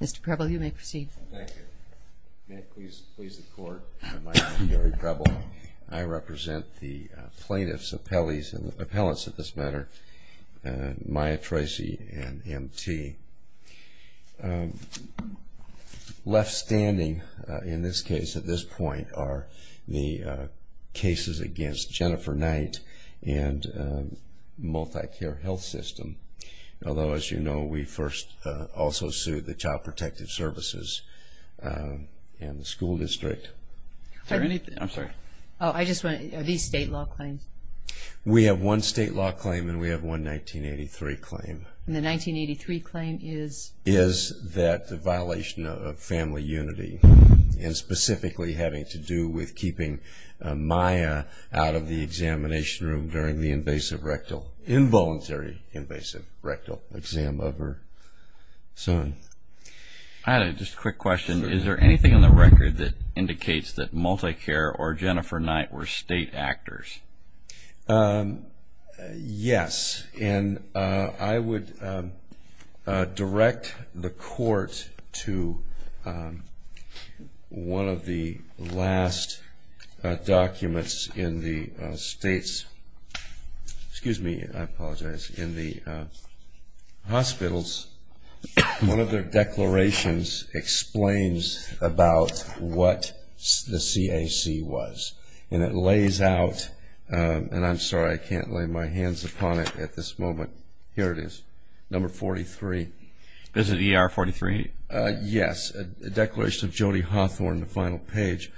Mr. Preble, you may proceed. Thank you. May it please the Court, my name is Gary Preble. I represent the plaintiffs, appellants in this matter, Maya Tracy and M.T. Left standing in this case at this point are the cases against Jennifer Knight and MultiCare Health System. Although, as you know, we first also sued the Child Protective Services and the school district. Are these state law claims? We have one state law claim and we have one 1983 claim. And the 1983 claim is? Is that the violation of family unity and specifically having to do with keeping Maya out of the examination room during the invasive rectal, involuntary invasive rectal exam of her son. I had just a quick question. Is there anything on the record that indicates that MultiCare or Jennifer Knight were state actors? Yes. And I would direct the Court to one of the last documents in the states, excuse me, I apologize, in the hospitals. One of their declarations explains about what the CAC was. And it lays out, and I'm sorry I can't lay my hands upon it at this moment, here it is, number 43. Is it ER 43? Yes. A declaration of Jody Hawthorne, the final page,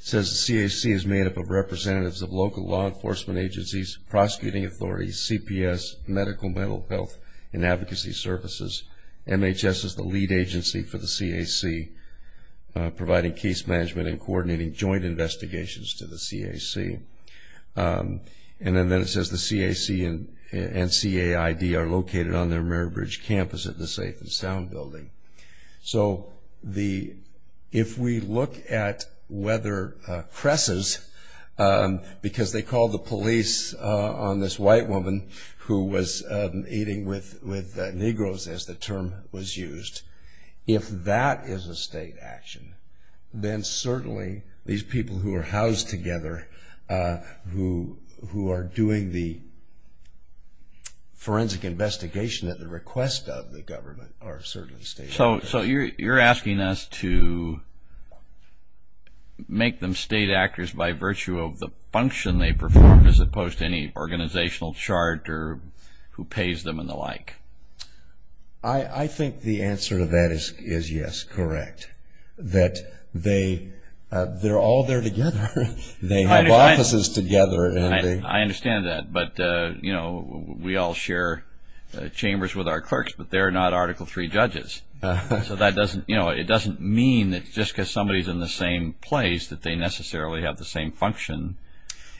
says the CAC is made up of representatives of local law enforcement agencies, prosecuting authorities, CPS, medical, mental health and advocacy services. MHS is the lead agency for the CAC, providing case management and coordinating joint investigations to the CAC. And then it says the CAC and CAID are located on their Mary Bridge campus at the Safe and Sound building. So if we look at whether Cress's, because they called the police on this white woman who was eating with her and the term was used, if that is a state action, then certainly these people who are housed together, who are doing the forensic investigation at the request of the government are certainly state actors. So you're asking us to make them state actors by virtue of the function they perform as opposed to any organizational charter who pays them and the like? I think the answer to that is yes, correct. That they're all there together. They have offices together. I understand that. But, you know, we all share chambers with our clerks, but they're not Article III judges. So that doesn't, you know, it doesn't mean that just because somebody's in the same place that they necessarily have the same function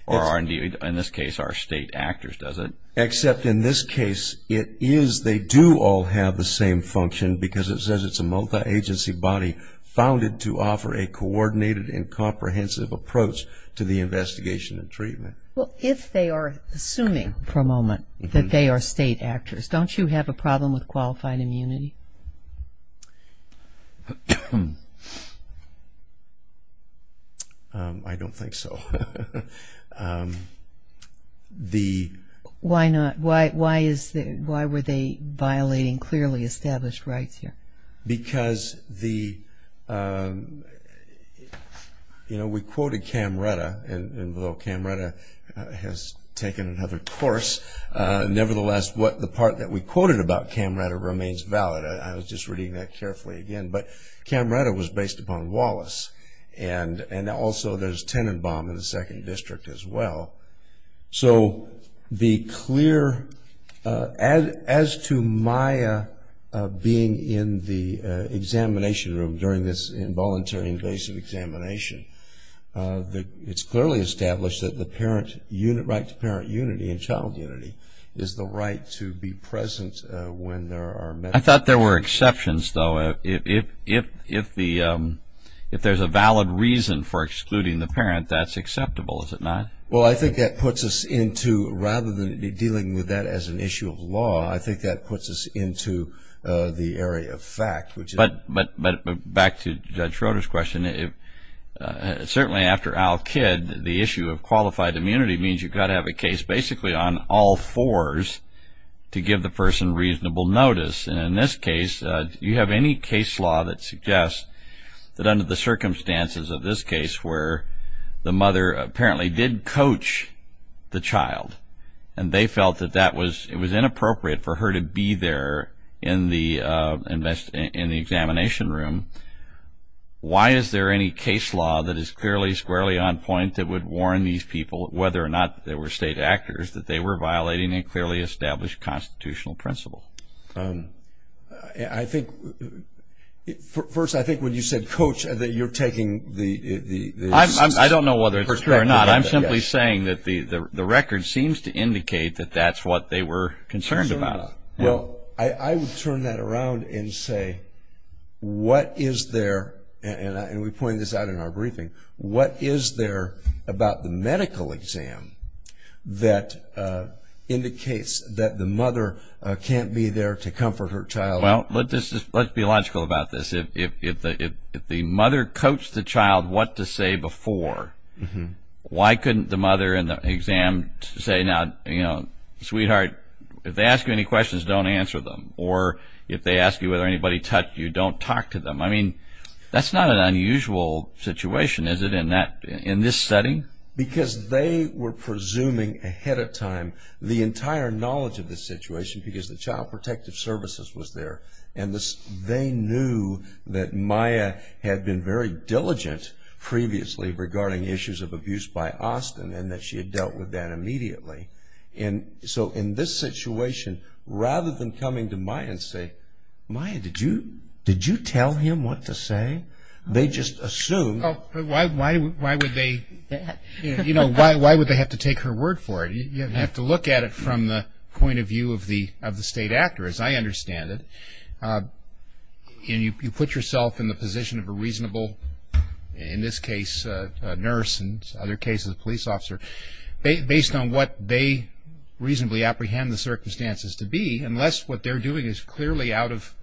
or in this case are state actors, does it? Except in this case it is they do all have the same function because it says it's a multi-agency body founded to offer a coordinated and comprehensive approach to the investigation and treatment. Well, if they are assuming for a moment that they are state actors, don't you have a problem with qualified immunity? I don't think so. Why not? Why were they violating clearly established rights here? Because the, you know, we quoted Camretta, and although Camretta has taken another course, nevertheless the part that we quoted about Camretta remains valid. I was just reading that carefully again. But Camretta was based upon Wallace, and also there's Tenenbaum in the second district as well. So the clear, as to Maya being in the examination room during this involuntary invasive examination, it's clearly established that the right to parent unity and child unity is the right to be present when there are I thought there were exceptions, though. If there's a valid reason for excluding the parent, that's acceptable, is it not? Well, I think that puts us into, rather than dealing with that as an issue of law, I think that puts us into the area of fact. But back to Judge Schroeder's question, certainly after AL-KID, the issue of qualified immunity means you've got to have a case basically on all fours to give the person reasonable notice. And in this case, you have any case law that suggests that under the circumstances of this case where the mother apparently did coach the child, and they felt that it was inappropriate for her to be there in the examination room, why is there any case law that is clearly squarely on point that would warn these people, whether or not they were state actors, that they were violating a clearly established constitutional principle? I think, first, I think when you said coach, that you're taking the perspective. I don't know whether it's true or not. I'm simply saying that the record seems to indicate that that's what they were concerned about. Well, I would turn that around and say, what is there, and we pointed this out in our briefing, what is there about the medical exam that indicates that the mother can't be there to comfort her child? Well, let's be logical about this. If the mother coached the child what to say before, why couldn't the mother in the exam say, you know, sweetheart, if they ask you any questions, don't answer them, or if they ask you whether anybody touched you, don't talk to them. I mean, that's not an unusual situation, is it, in this setting? Because they were presuming ahead of time the entire knowledge of the situation because the Child Protective Services was there, and they knew that Maya had been very diligent previously regarding issues of abuse by Austin and that she had dealt with that immediately. And so in this situation, rather than coming to Maya and say, Maya, did you tell him what to say? They just assumed. Why would they have to take her word for it? You have to look at it from the point of view of the state actor, as I understand it. And you put yourself in the position of a reasonable, in this case, nurse, and in other cases a police officer, based on what they reasonably apprehend the circumstances to be, unless what they're doing is clearly out of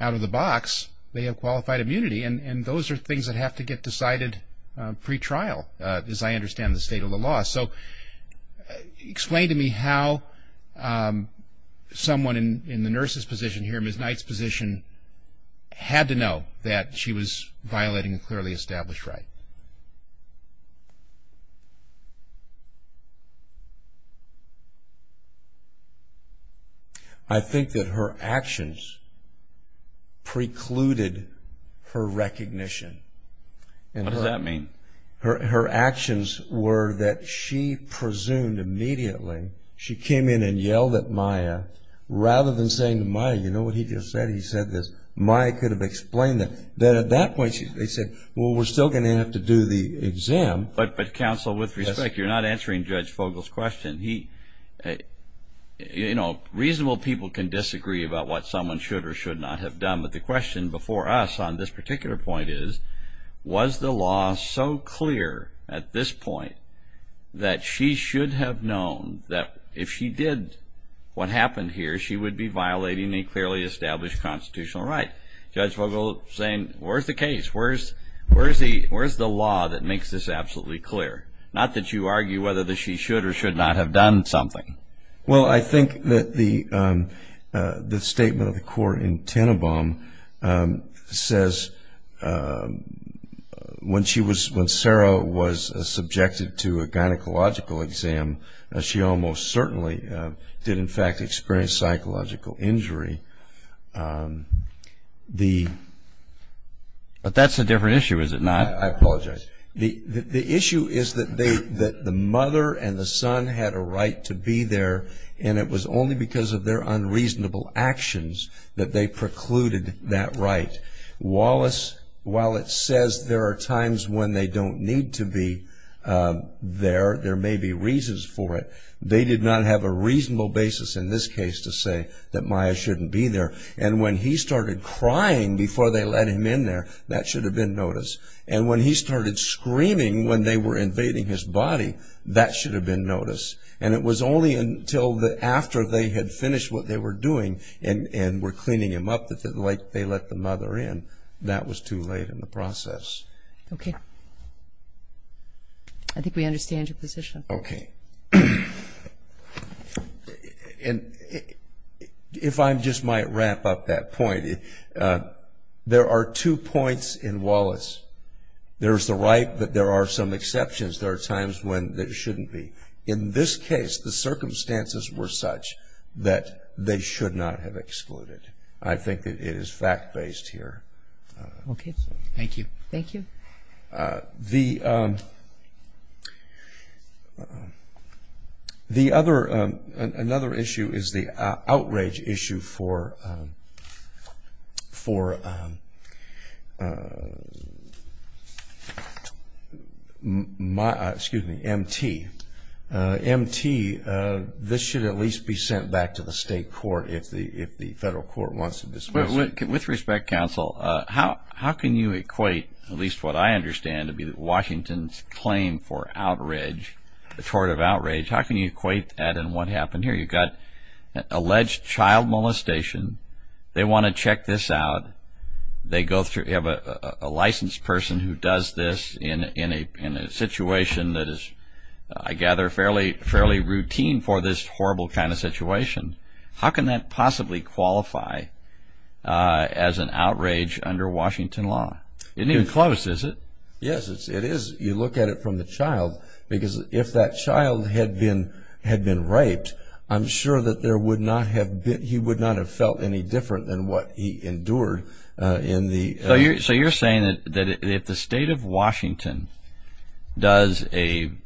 the box, they have qualified immunity. And those are things that have to get decided pre-trial, as I understand the state of the law. So explain to me how someone in the nurse's position here, Ms. Knight's position, had to know that she was violating a clearly established right. I think that her actions precluded her recognition. What does that mean? Her actions were that she presumed immediately. She came in and yelled at Maya. Rather than saying to Maya, you know what he just said? He said this. Maya could have explained that. Then at that point they said, well, we're still going to have to do the exam. But counsel, with respect, you're not answering Judge Fogle's question. You know, reasonable people can disagree about what someone should or should not have done. But the question before us on this particular point is, was the law so clear at this point that she should have known that if she did what happened here, she would be violating a clearly established constitutional right? Judge Fogle saying, where's the case? Where's the law that makes this absolutely clear? Not that you argue whether she should or should not have done something. Well, I think that the statement of the court in Tenenbaum says, when Sarah was subjected to a gynecological exam, she almost certainly did, in fact, experience psychological injury. But that's a different issue, is it not? I apologize. The issue is that the mother and the son had a right to be there, and it was only because of their unreasonable actions that they precluded that right. Wallace, while it says there are times when they don't need to be there, there may be reasons for it, they did not have a reasonable basis in this case to say that Maya shouldn't be there. And when he started crying before they let him in there, that should have been noticed. And when he started screaming when they were invading his body, that should have been noticed. And it was only until after they had finished what they were doing and were cleaning him up like they let the mother in, that was too late in the process. Okay. I think we understand your position. Okay. And if I just might wrap up that point, there are two points in Wallace. There is the right that there are some exceptions. There are times when there shouldn't be. In this case, the circumstances were such that they should not have excluded. I think that it is fact-based here. Okay. Thank you. Thank you. The other issue is the outrage issue for M.T. M.T., this should at least be sent back to the state court if the federal court wants to dismiss it. With respect, counsel, how can you equate at least what I understand to be Washington's claim for outrage, tort of outrage, how can you equate that and what happened here? You've got alleged child molestation. They want to check this out. They have a licensed person who does this in a situation that is, I gather, fairly routine for this horrible kind of situation. How can that possibly qualify as an outrage under Washington law? It isn't even close, is it? Yes, it is. You look at it from the child because if that child had been raped, I'm sure that he would not have felt any different than what he endured in the ---- So you're saying that if the state of Washington does an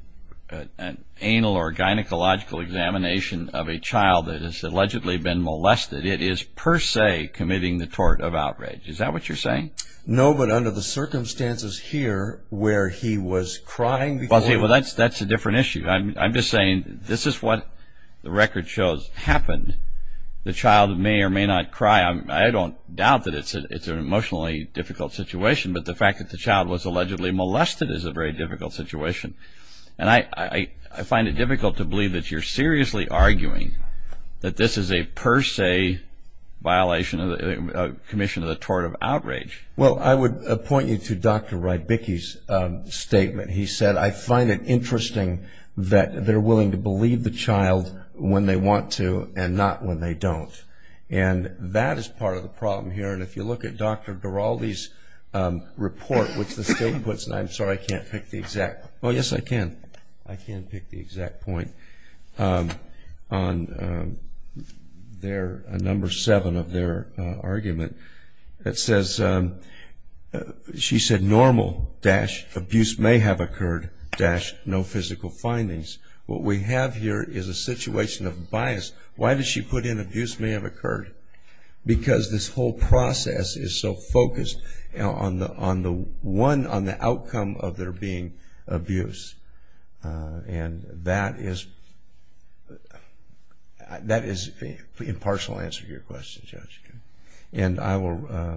anal or gynecological examination of a child that has allegedly been molested, it is per se committing the tort of outrage. Is that what you're saying? No, but under the circumstances here where he was crying before ---- Well, see, that's a different issue. I'm just saying this is what the record shows happened. The child may or may not cry. I don't doubt that it's an emotionally difficult situation, but the fact that the child was allegedly molested is a very difficult situation. And I find it difficult to believe that you're seriously arguing that this is a per se violation, a commission of the tort of outrage. Well, I would point you to Dr. Rybicki's statement. He said, I find it interesting that they're willing to believe the child when they want to and not when they don't. And that is part of the problem here. And if you look at Dr. Giraldi's report, which the state puts ---- I'm sorry, I can't pick the exact ---- Oh, yes, I can. I can pick the exact point on their number seven of their argument. It says, she said, normal-abuse may have occurred-no physical findings. What we have here is a situation of bias. Why does she put in abuse may have occurred? Because this whole process is so focused on the outcome of there being abuse. And that is an impartial answer to your question, Judge. And I will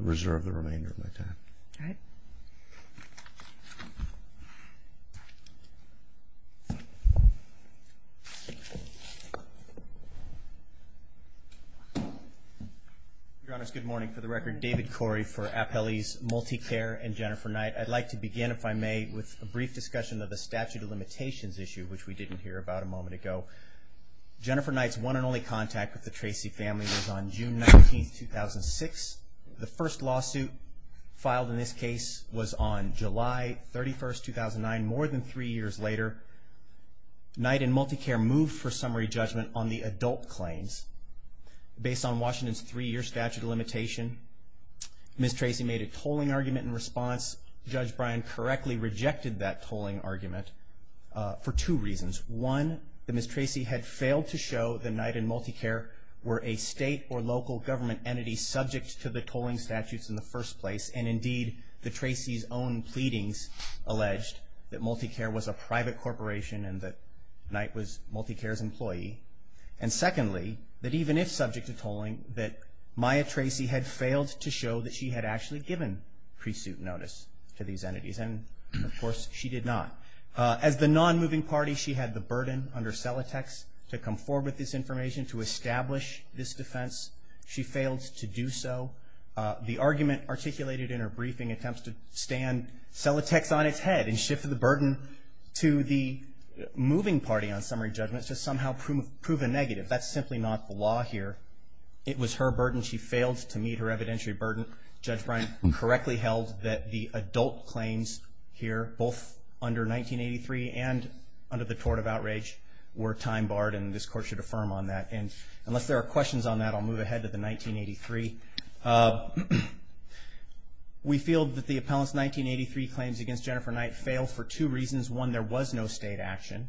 reserve the remainder of my time. All right. Your Honors, good morning. For the record, David Corey for Appellee's MultiCare and Jennifer Knight. I'd like to begin, if I may, with a brief discussion of the statute of limitations issue, which we didn't hear about a moment ago. Jennifer Knight's one and only contact with the Tracy family was on June 19, 2006. The first lawsuit filed in this case was on July 31, 2009. More than three years later, Knight and MultiCare moved for summary judgment on the adult claims. Based on Washington's three-year statute of limitation, Ms. Tracy made a tolling argument in response. Judge Bryan correctly rejected that tolling argument for two reasons. One, that Ms. Tracy had failed to show that Knight and MultiCare were a state or local government entity subject to the tolling statutes in the first place. And indeed, the Tracy's own pleadings alleged that MultiCare was a private corporation and that Knight was MultiCare's employee. And secondly, that even if subject to tolling, that Maya Tracy had failed to show that she had actually given pre-suit notice to these entities. And, of course, she did not. As the non-moving party, she had the burden under Celatex to come forward with this information, to establish this defense. She failed to do so. The argument articulated in her briefing attempts to stand Celatex on its head and shift the burden to the moving party on summary judgment to somehow prove a negative. That's simply not the law here. It was her burden. She failed to meet her evidentiary burden. Judge Bryan correctly held that the adult claims here, both under 1983 and under the tort of outrage, were time-barred, and this Court should affirm on that. And unless there are questions on that, I'll move ahead to the 1983. We feel that the appellant's 1983 claims against Jennifer Knight failed for two reasons. One, there was no state action.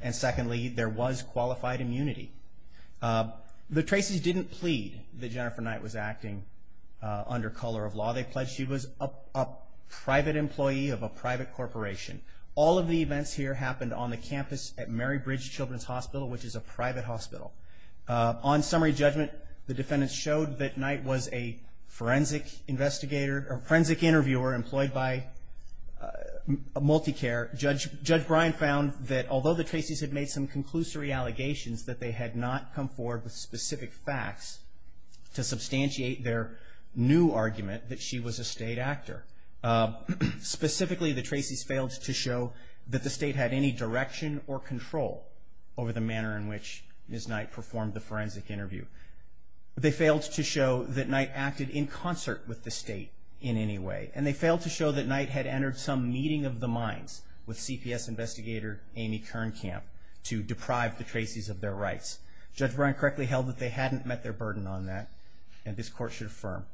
And secondly, there was qualified immunity. The Tracy's didn't plead that Jennifer Knight was acting under color of law. They pledged she was a private employee of a private corporation. All of the events here happened on the campus at Mary Bridge Children's Hospital, which is a private hospital. On summary judgment, the defendants showed that Knight was a forensic investigator or forensic interviewer employed by MultiCare. Judge Bryan found that although the Tracy's had made some conclusory allegations, that they had not come forward with specific facts to substantiate their new argument that she was a state actor. Specifically, the Tracy's failed to show that the state had any direction or control over the manner in which Ms. Knight performed the forensic interview. They failed to show that Knight acted in concert with the state in any way, and they failed to show that Knight had entered some meeting of the minds with CPS investigator Amy Kernkamp to deprive the Tracy's of their rights. Judge Bryan correctly held that they hadn't met their burden on that, and this Court should affirm.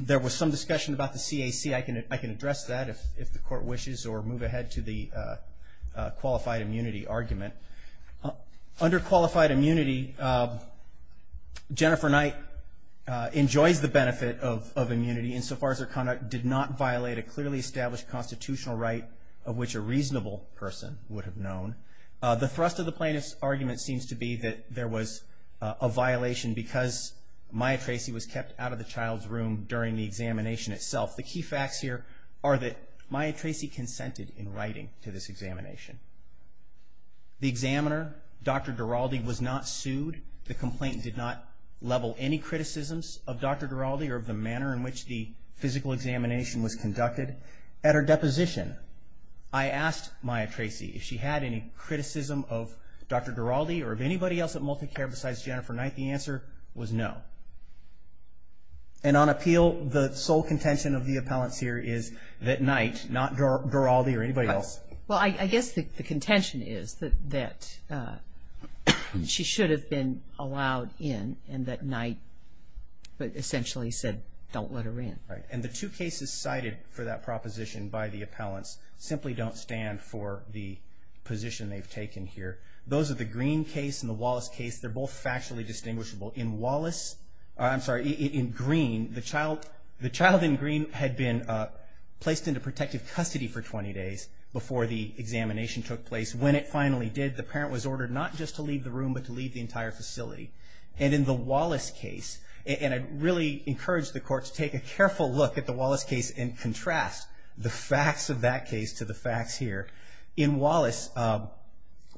There was some discussion about the CAC. I can address that if the Court wishes or move ahead to the qualified immunity argument. Under qualified immunity, Jennifer Knight enjoys the benefit of immunity insofar as her conduct did not violate a clearly established constitutional right of which a reasonable person would have known. The thrust of the plaintiff's argument seems to be that there was a violation because Maya Tracy was kept out of the child's room during the examination itself. The key facts here are that Maya Tracy consented in writing to this examination. The examiner, Dr. Duralde, was not sued. The complaint did not level any criticisms of Dr. Duralde or of the manner in which the physical examination was conducted. At her deposition, I asked Maya Tracy if she had any criticism of Dr. Duralde or of anybody else at MultiCare besides Jennifer Knight. The answer was no. And on appeal, the sole contention of the appellants here is that Knight, not Duralde or anybody else. Well, I guess the contention is that she should have been allowed in and that Knight essentially said don't let her in. Right. And the two cases cited for that proposition by the appellants simply don't stand for the position they've taken here. Those are the Green case and the Wallace case. They're both factually distinguishable. In Wallace, I'm sorry, in Green, the child in Green had been placed into protective custody for 20 days before the examination took place. When it finally did, the parent was ordered not just to leave the room but to leave the entire facility. And in the Wallace case, and I really encourage the court to take a careful look at the Wallace case and contrast the facts of that case to the facts here. In Wallace,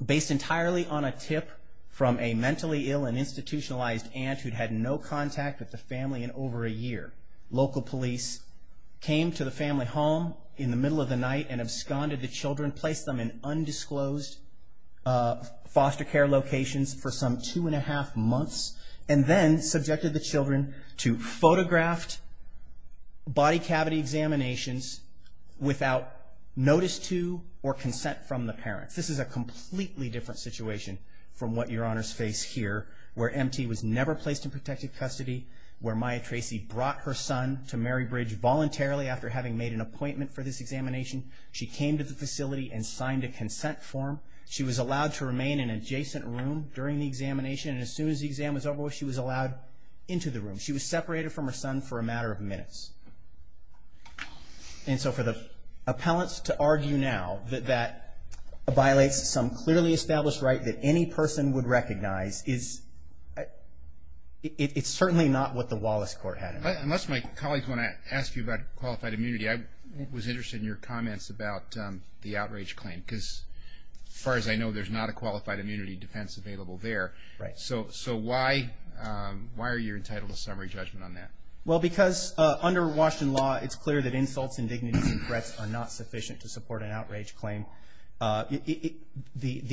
based entirely on a tip from a mentally ill and institutionalized aunt who'd had no contact with the family in over a year, local police came to the family home in the middle of the night and absconded the children, placed them in undisclosed foster care locations for some two and a half months, and then subjected the children to photographed body cavity examinations without notice to or consent from the parents. This is a completely different situation from what Your Honors face here, where MT was never placed in protective custody, where Maya Tracy brought her son to Mary Bridge voluntarily after having made an appointment for this examination. She came to the facility and signed a consent form. She was allowed to remain in an adjacent room during the examination, and as soon as the exam was over, she was allowed into the room. She was separated from her son for a matter of minutes. And so for the appellants to argue now that that violates some clearly established right that any person would recognize is certainly not what the Wallace court had in mind. Unless my colleagues want to ask you about qualified immunity, I was interested in your comments about the outrage claim, because as far as I know, there's not a qualified immunity defense available there. Right. So why are you entitled to summary judgment on that? Well, because under Washington law, it's clear that insults and dignities and threats are not sufficient to support an outrage claim. The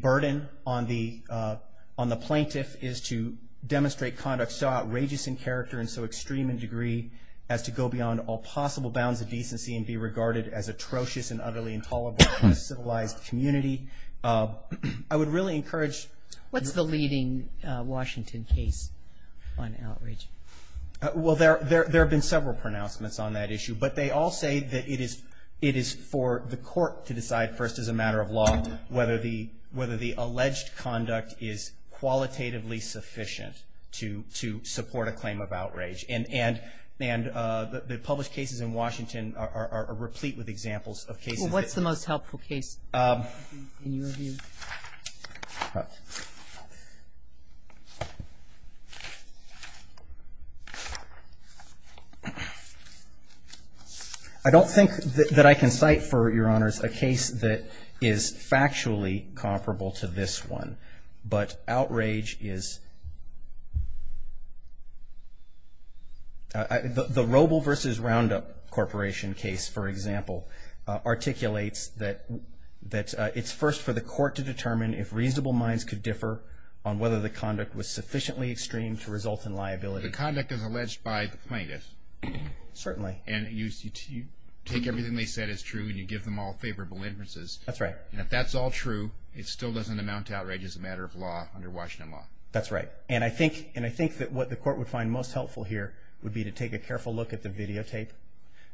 burden on the plaintiff is to demonstrate conduct so outrageous in character and so extreme in degree as to go beyond all possible bounds of decency and be regarded as atrocious and utterly intolerable in a civilized community. I would really encourage- What's the leading Washington case on outrage? Well, there have been several pronouncements on that issue, but they all say that it is for the court to decide first as a matter of law whether the alleged conduct is qualitatively sufficient to support a claim of outrage. And the published cases in Washington are replete with examples of cases- Well, what's the most helpful case in your view? I don't think that I can cite for your honors a case that is factually comparable to this one. But outrage is- The Roble v. Roundup Corporation case, for example, articulates that it's first for the court to decide whether the alleged conduct is qualitatively sufficient to determine if reasonable minds could differ on whether the conduct was sufficiently extreme to result in liability. The conduct is alleged by the plaintiff. Certainly. And you take everything they said is true and you give them all favorable inferences. That's right. And if that's all true, it still doesn't amount to outrage as a matter of law under Washington law. That's right. And I think that what the court would find most helpful here would be to take a careful look at the videotape.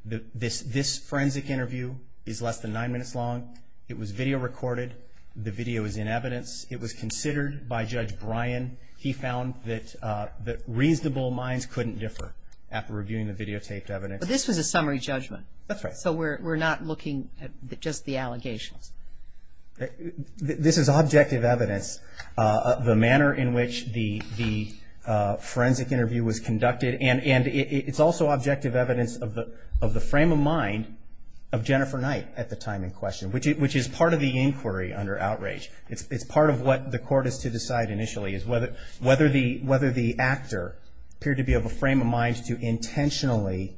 This forensic interview is less than nine minutes long. It was video recorded. The video is in evidence. It was considered by Judge Bryan. He found that reasonable minds couldn't differ after reviewing the videotaped evidence. But this was a summary judgment. That's right. So we're not looking at just the allegations. This is objective evidence, the manner in which the forensic interview was conducted, and it's also objective evidence of the frame of mind of Jennifer Knight at the time in question, which is part of the inquiry under outrage. It's part of what the court is to decide initially is whether the actor appeared to be of a frame of mind to intentionally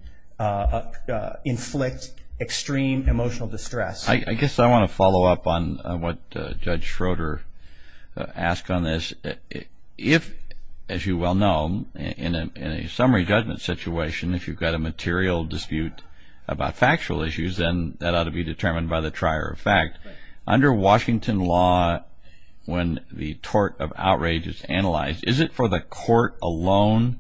inflict extreme emotional distress. I guess I want to follow up on what Judge Schroeder asked on this. If, as you well know, in a summary judgment situation, if you've got a material dispute about factual issues, then that ought to be determined by the trier of fact. Under Washington law, when the tort of outrage is analyzed, is it for the court alone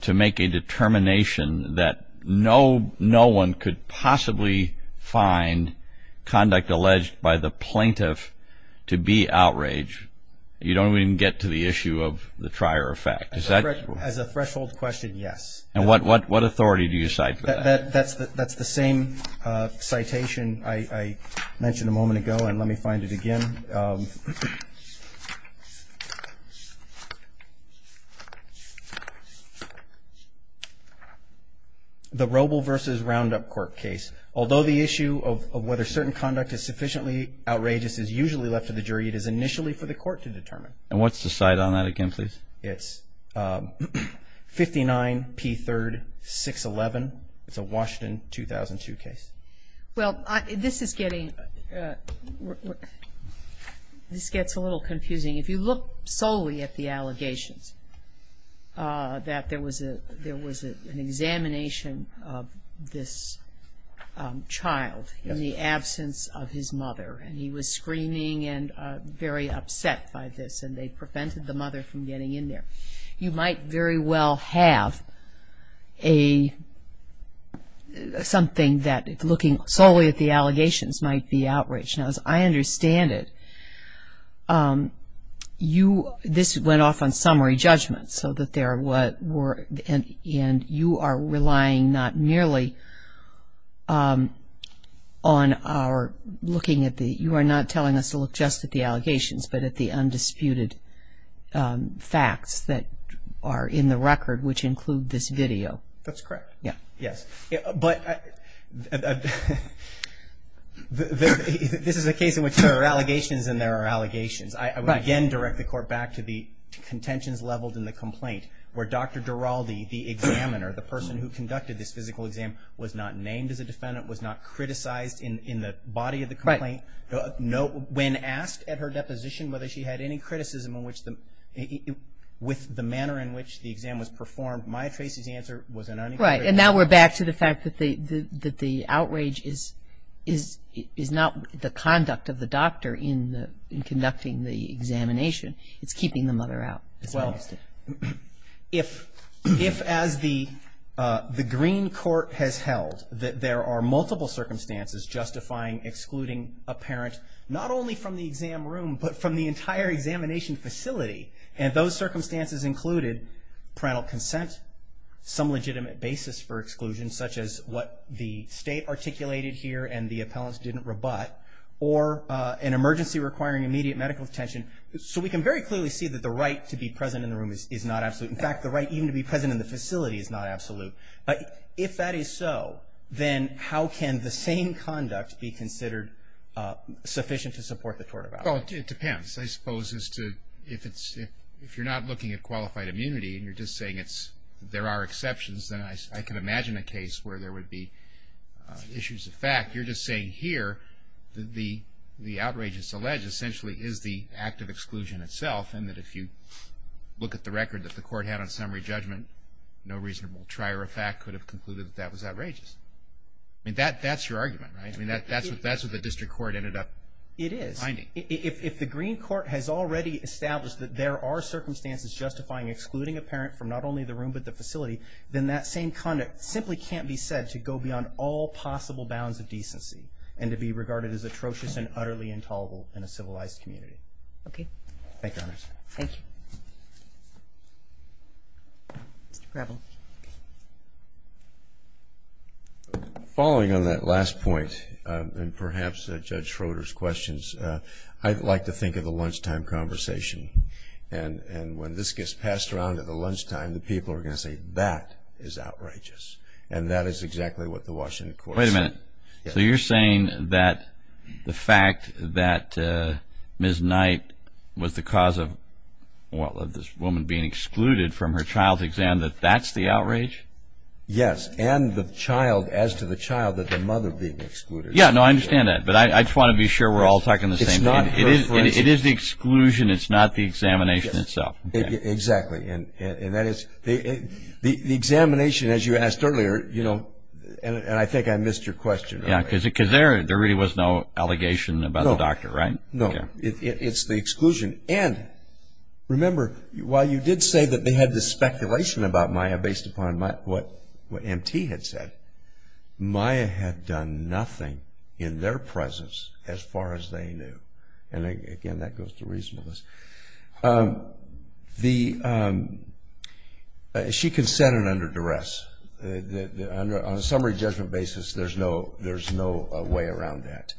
to make a determination that no one could possibly find conduct alleged by the plaintiff to be outrage? You don't even get to the issue of the trier of fact. As a threshold question, yes. And what authority do you cite for that? That's the same citation I mentioned a moment ago, and let me find it again. The Robel v. Roundup court case. Although the issue of whether certain conduct is sufficiently outrageous is usually left to the jury, it is initially for the court to determine. And what's the cite on that again, please? It's 59P3-611. It's a Washington 2002 case. Well, this is getting, this gets a little confusing. If you look solely at the allegations that there was an examination of this child in the absence of his mother, and he was screaming and very upset by this, and they prevented the mother from getting in there, you might very well have something that, looking solely at the allegations, might be outrage. Now, as I understand it, you, this went off on summary judgment, and you are relying not merely on our looking at the, you are not telling us to look just at the allegations, but at the undisputed facts that are in the record, which include this video. That's correct. Yes. But this is a case in which there are allegations and there are allegations. Right. I would again direct the court back to the contentions leveled in the complaint, where Dr. Duralde, the examiner, the person who conducted this physical exam, was not named as a defendant, was not criticized in the body of the complaint. Right. When asked at her deposition whether she had any criticism in which the, with the manner in which the exam was performed, Maya Tracey's answer was an unequivocal. Right. It's keeping the mother out. Well, if as the green court has held, that there are multiple circumstances justifying excluding a parent, not only from the exam room, but from the entire examination facility, and those circumstances included parental consent, some legitimate basis for exclusion, such as what the state articulated here and the appellants didn't rebut, or an emergency requiring immediate medical attention. So we can very clearly see that the right to be present in the room is not absolute. In fact, the right even to be present in the facility is not absolute. If that is so, then how can the same conduct be considered sufficient to support the tort of allegations? Well, it depends, I suppose, as to if it's, if you're not looking at qualified immunity and you're just saying it's, there are exceptions, then I can imagine a case where there would be issues of fact. You're just saying here that the outrageous allege essentially is the act of exclusion itself and that if you look at the record that the court had on summary judgment, no reasonable trier of fact could have concluded that that was outrageous. I mean, that's your argument, right? I mean, that's what the district court ended up finding. It is. If the green court has already established that there are circumstances justifying excluding a parent from not only the room but the facility, then that same conduct simply can't be said to go beyond all possible bounds of decency and to be regarded as atrocious and utterly intolerable in a civilized community. Thank you, Your Honor. Thank you. Mr. Gravel. Following on that last point, and perhaps Judge Schroeder's questions, I'd like to think of the lunchtime conversation. And when this gets passed around at the lunchtime, the people are going to say, that is outrageous. And that is exactly what the Washington court said. Wait a minute. So you're saying that the fact that Ms. Knight was the cause of this woman being excluded from her child's exam, that that's the outrage? Yes. And the child, as to the child, that the mother being excluded. Yeah, no, I understand that. But I just want to be sure we're all talking the same thing. It's not her exclusion. It is the exclusion. It's not the examination itself. Exactly. And that is the examination, as you asked earlier, you know, and I think I missed your question. Yeah, because there really was no allegation about the doctor, right? No. It's the exclusion. And remember, while you did say that they had the speculation about Maya based upon what M.T. had said, Maya had done nothing in their presence as far as they knew. And, again, that goes to reasonableness. She consented under duress. On a summary judgment basis, there's no way around that.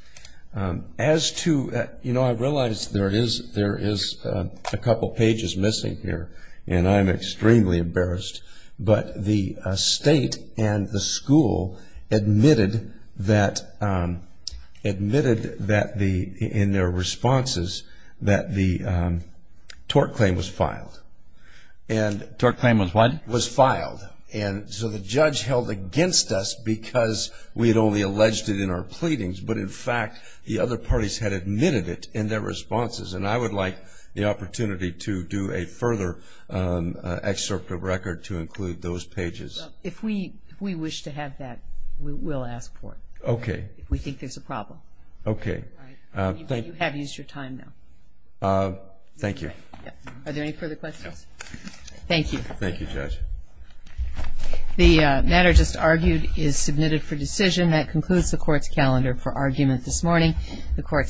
As to, you know, I realize there is a couple pages missing here, and I'm extremely embarrassed, but the state and the school admitted that in their responses that the tort claim was filed. Tort claim was what? Was filed. And so the judge held against us because we had only alleged it in our pleadings, but, in fact, the other parties had admitted it in their responses. And I would like the opportunity to do a further excerpt of record to include those pages. If we wish to have that, we'll ask for it. Okay. If we think there's a problem. Okay. All right. You have used your time now. Thank you. Are there any further questions? No. Thank you. Thank you, Judge. The matter just argued is submitted for decision. That concludes the Court's calendar for argument this morning. The Court stands adjourned.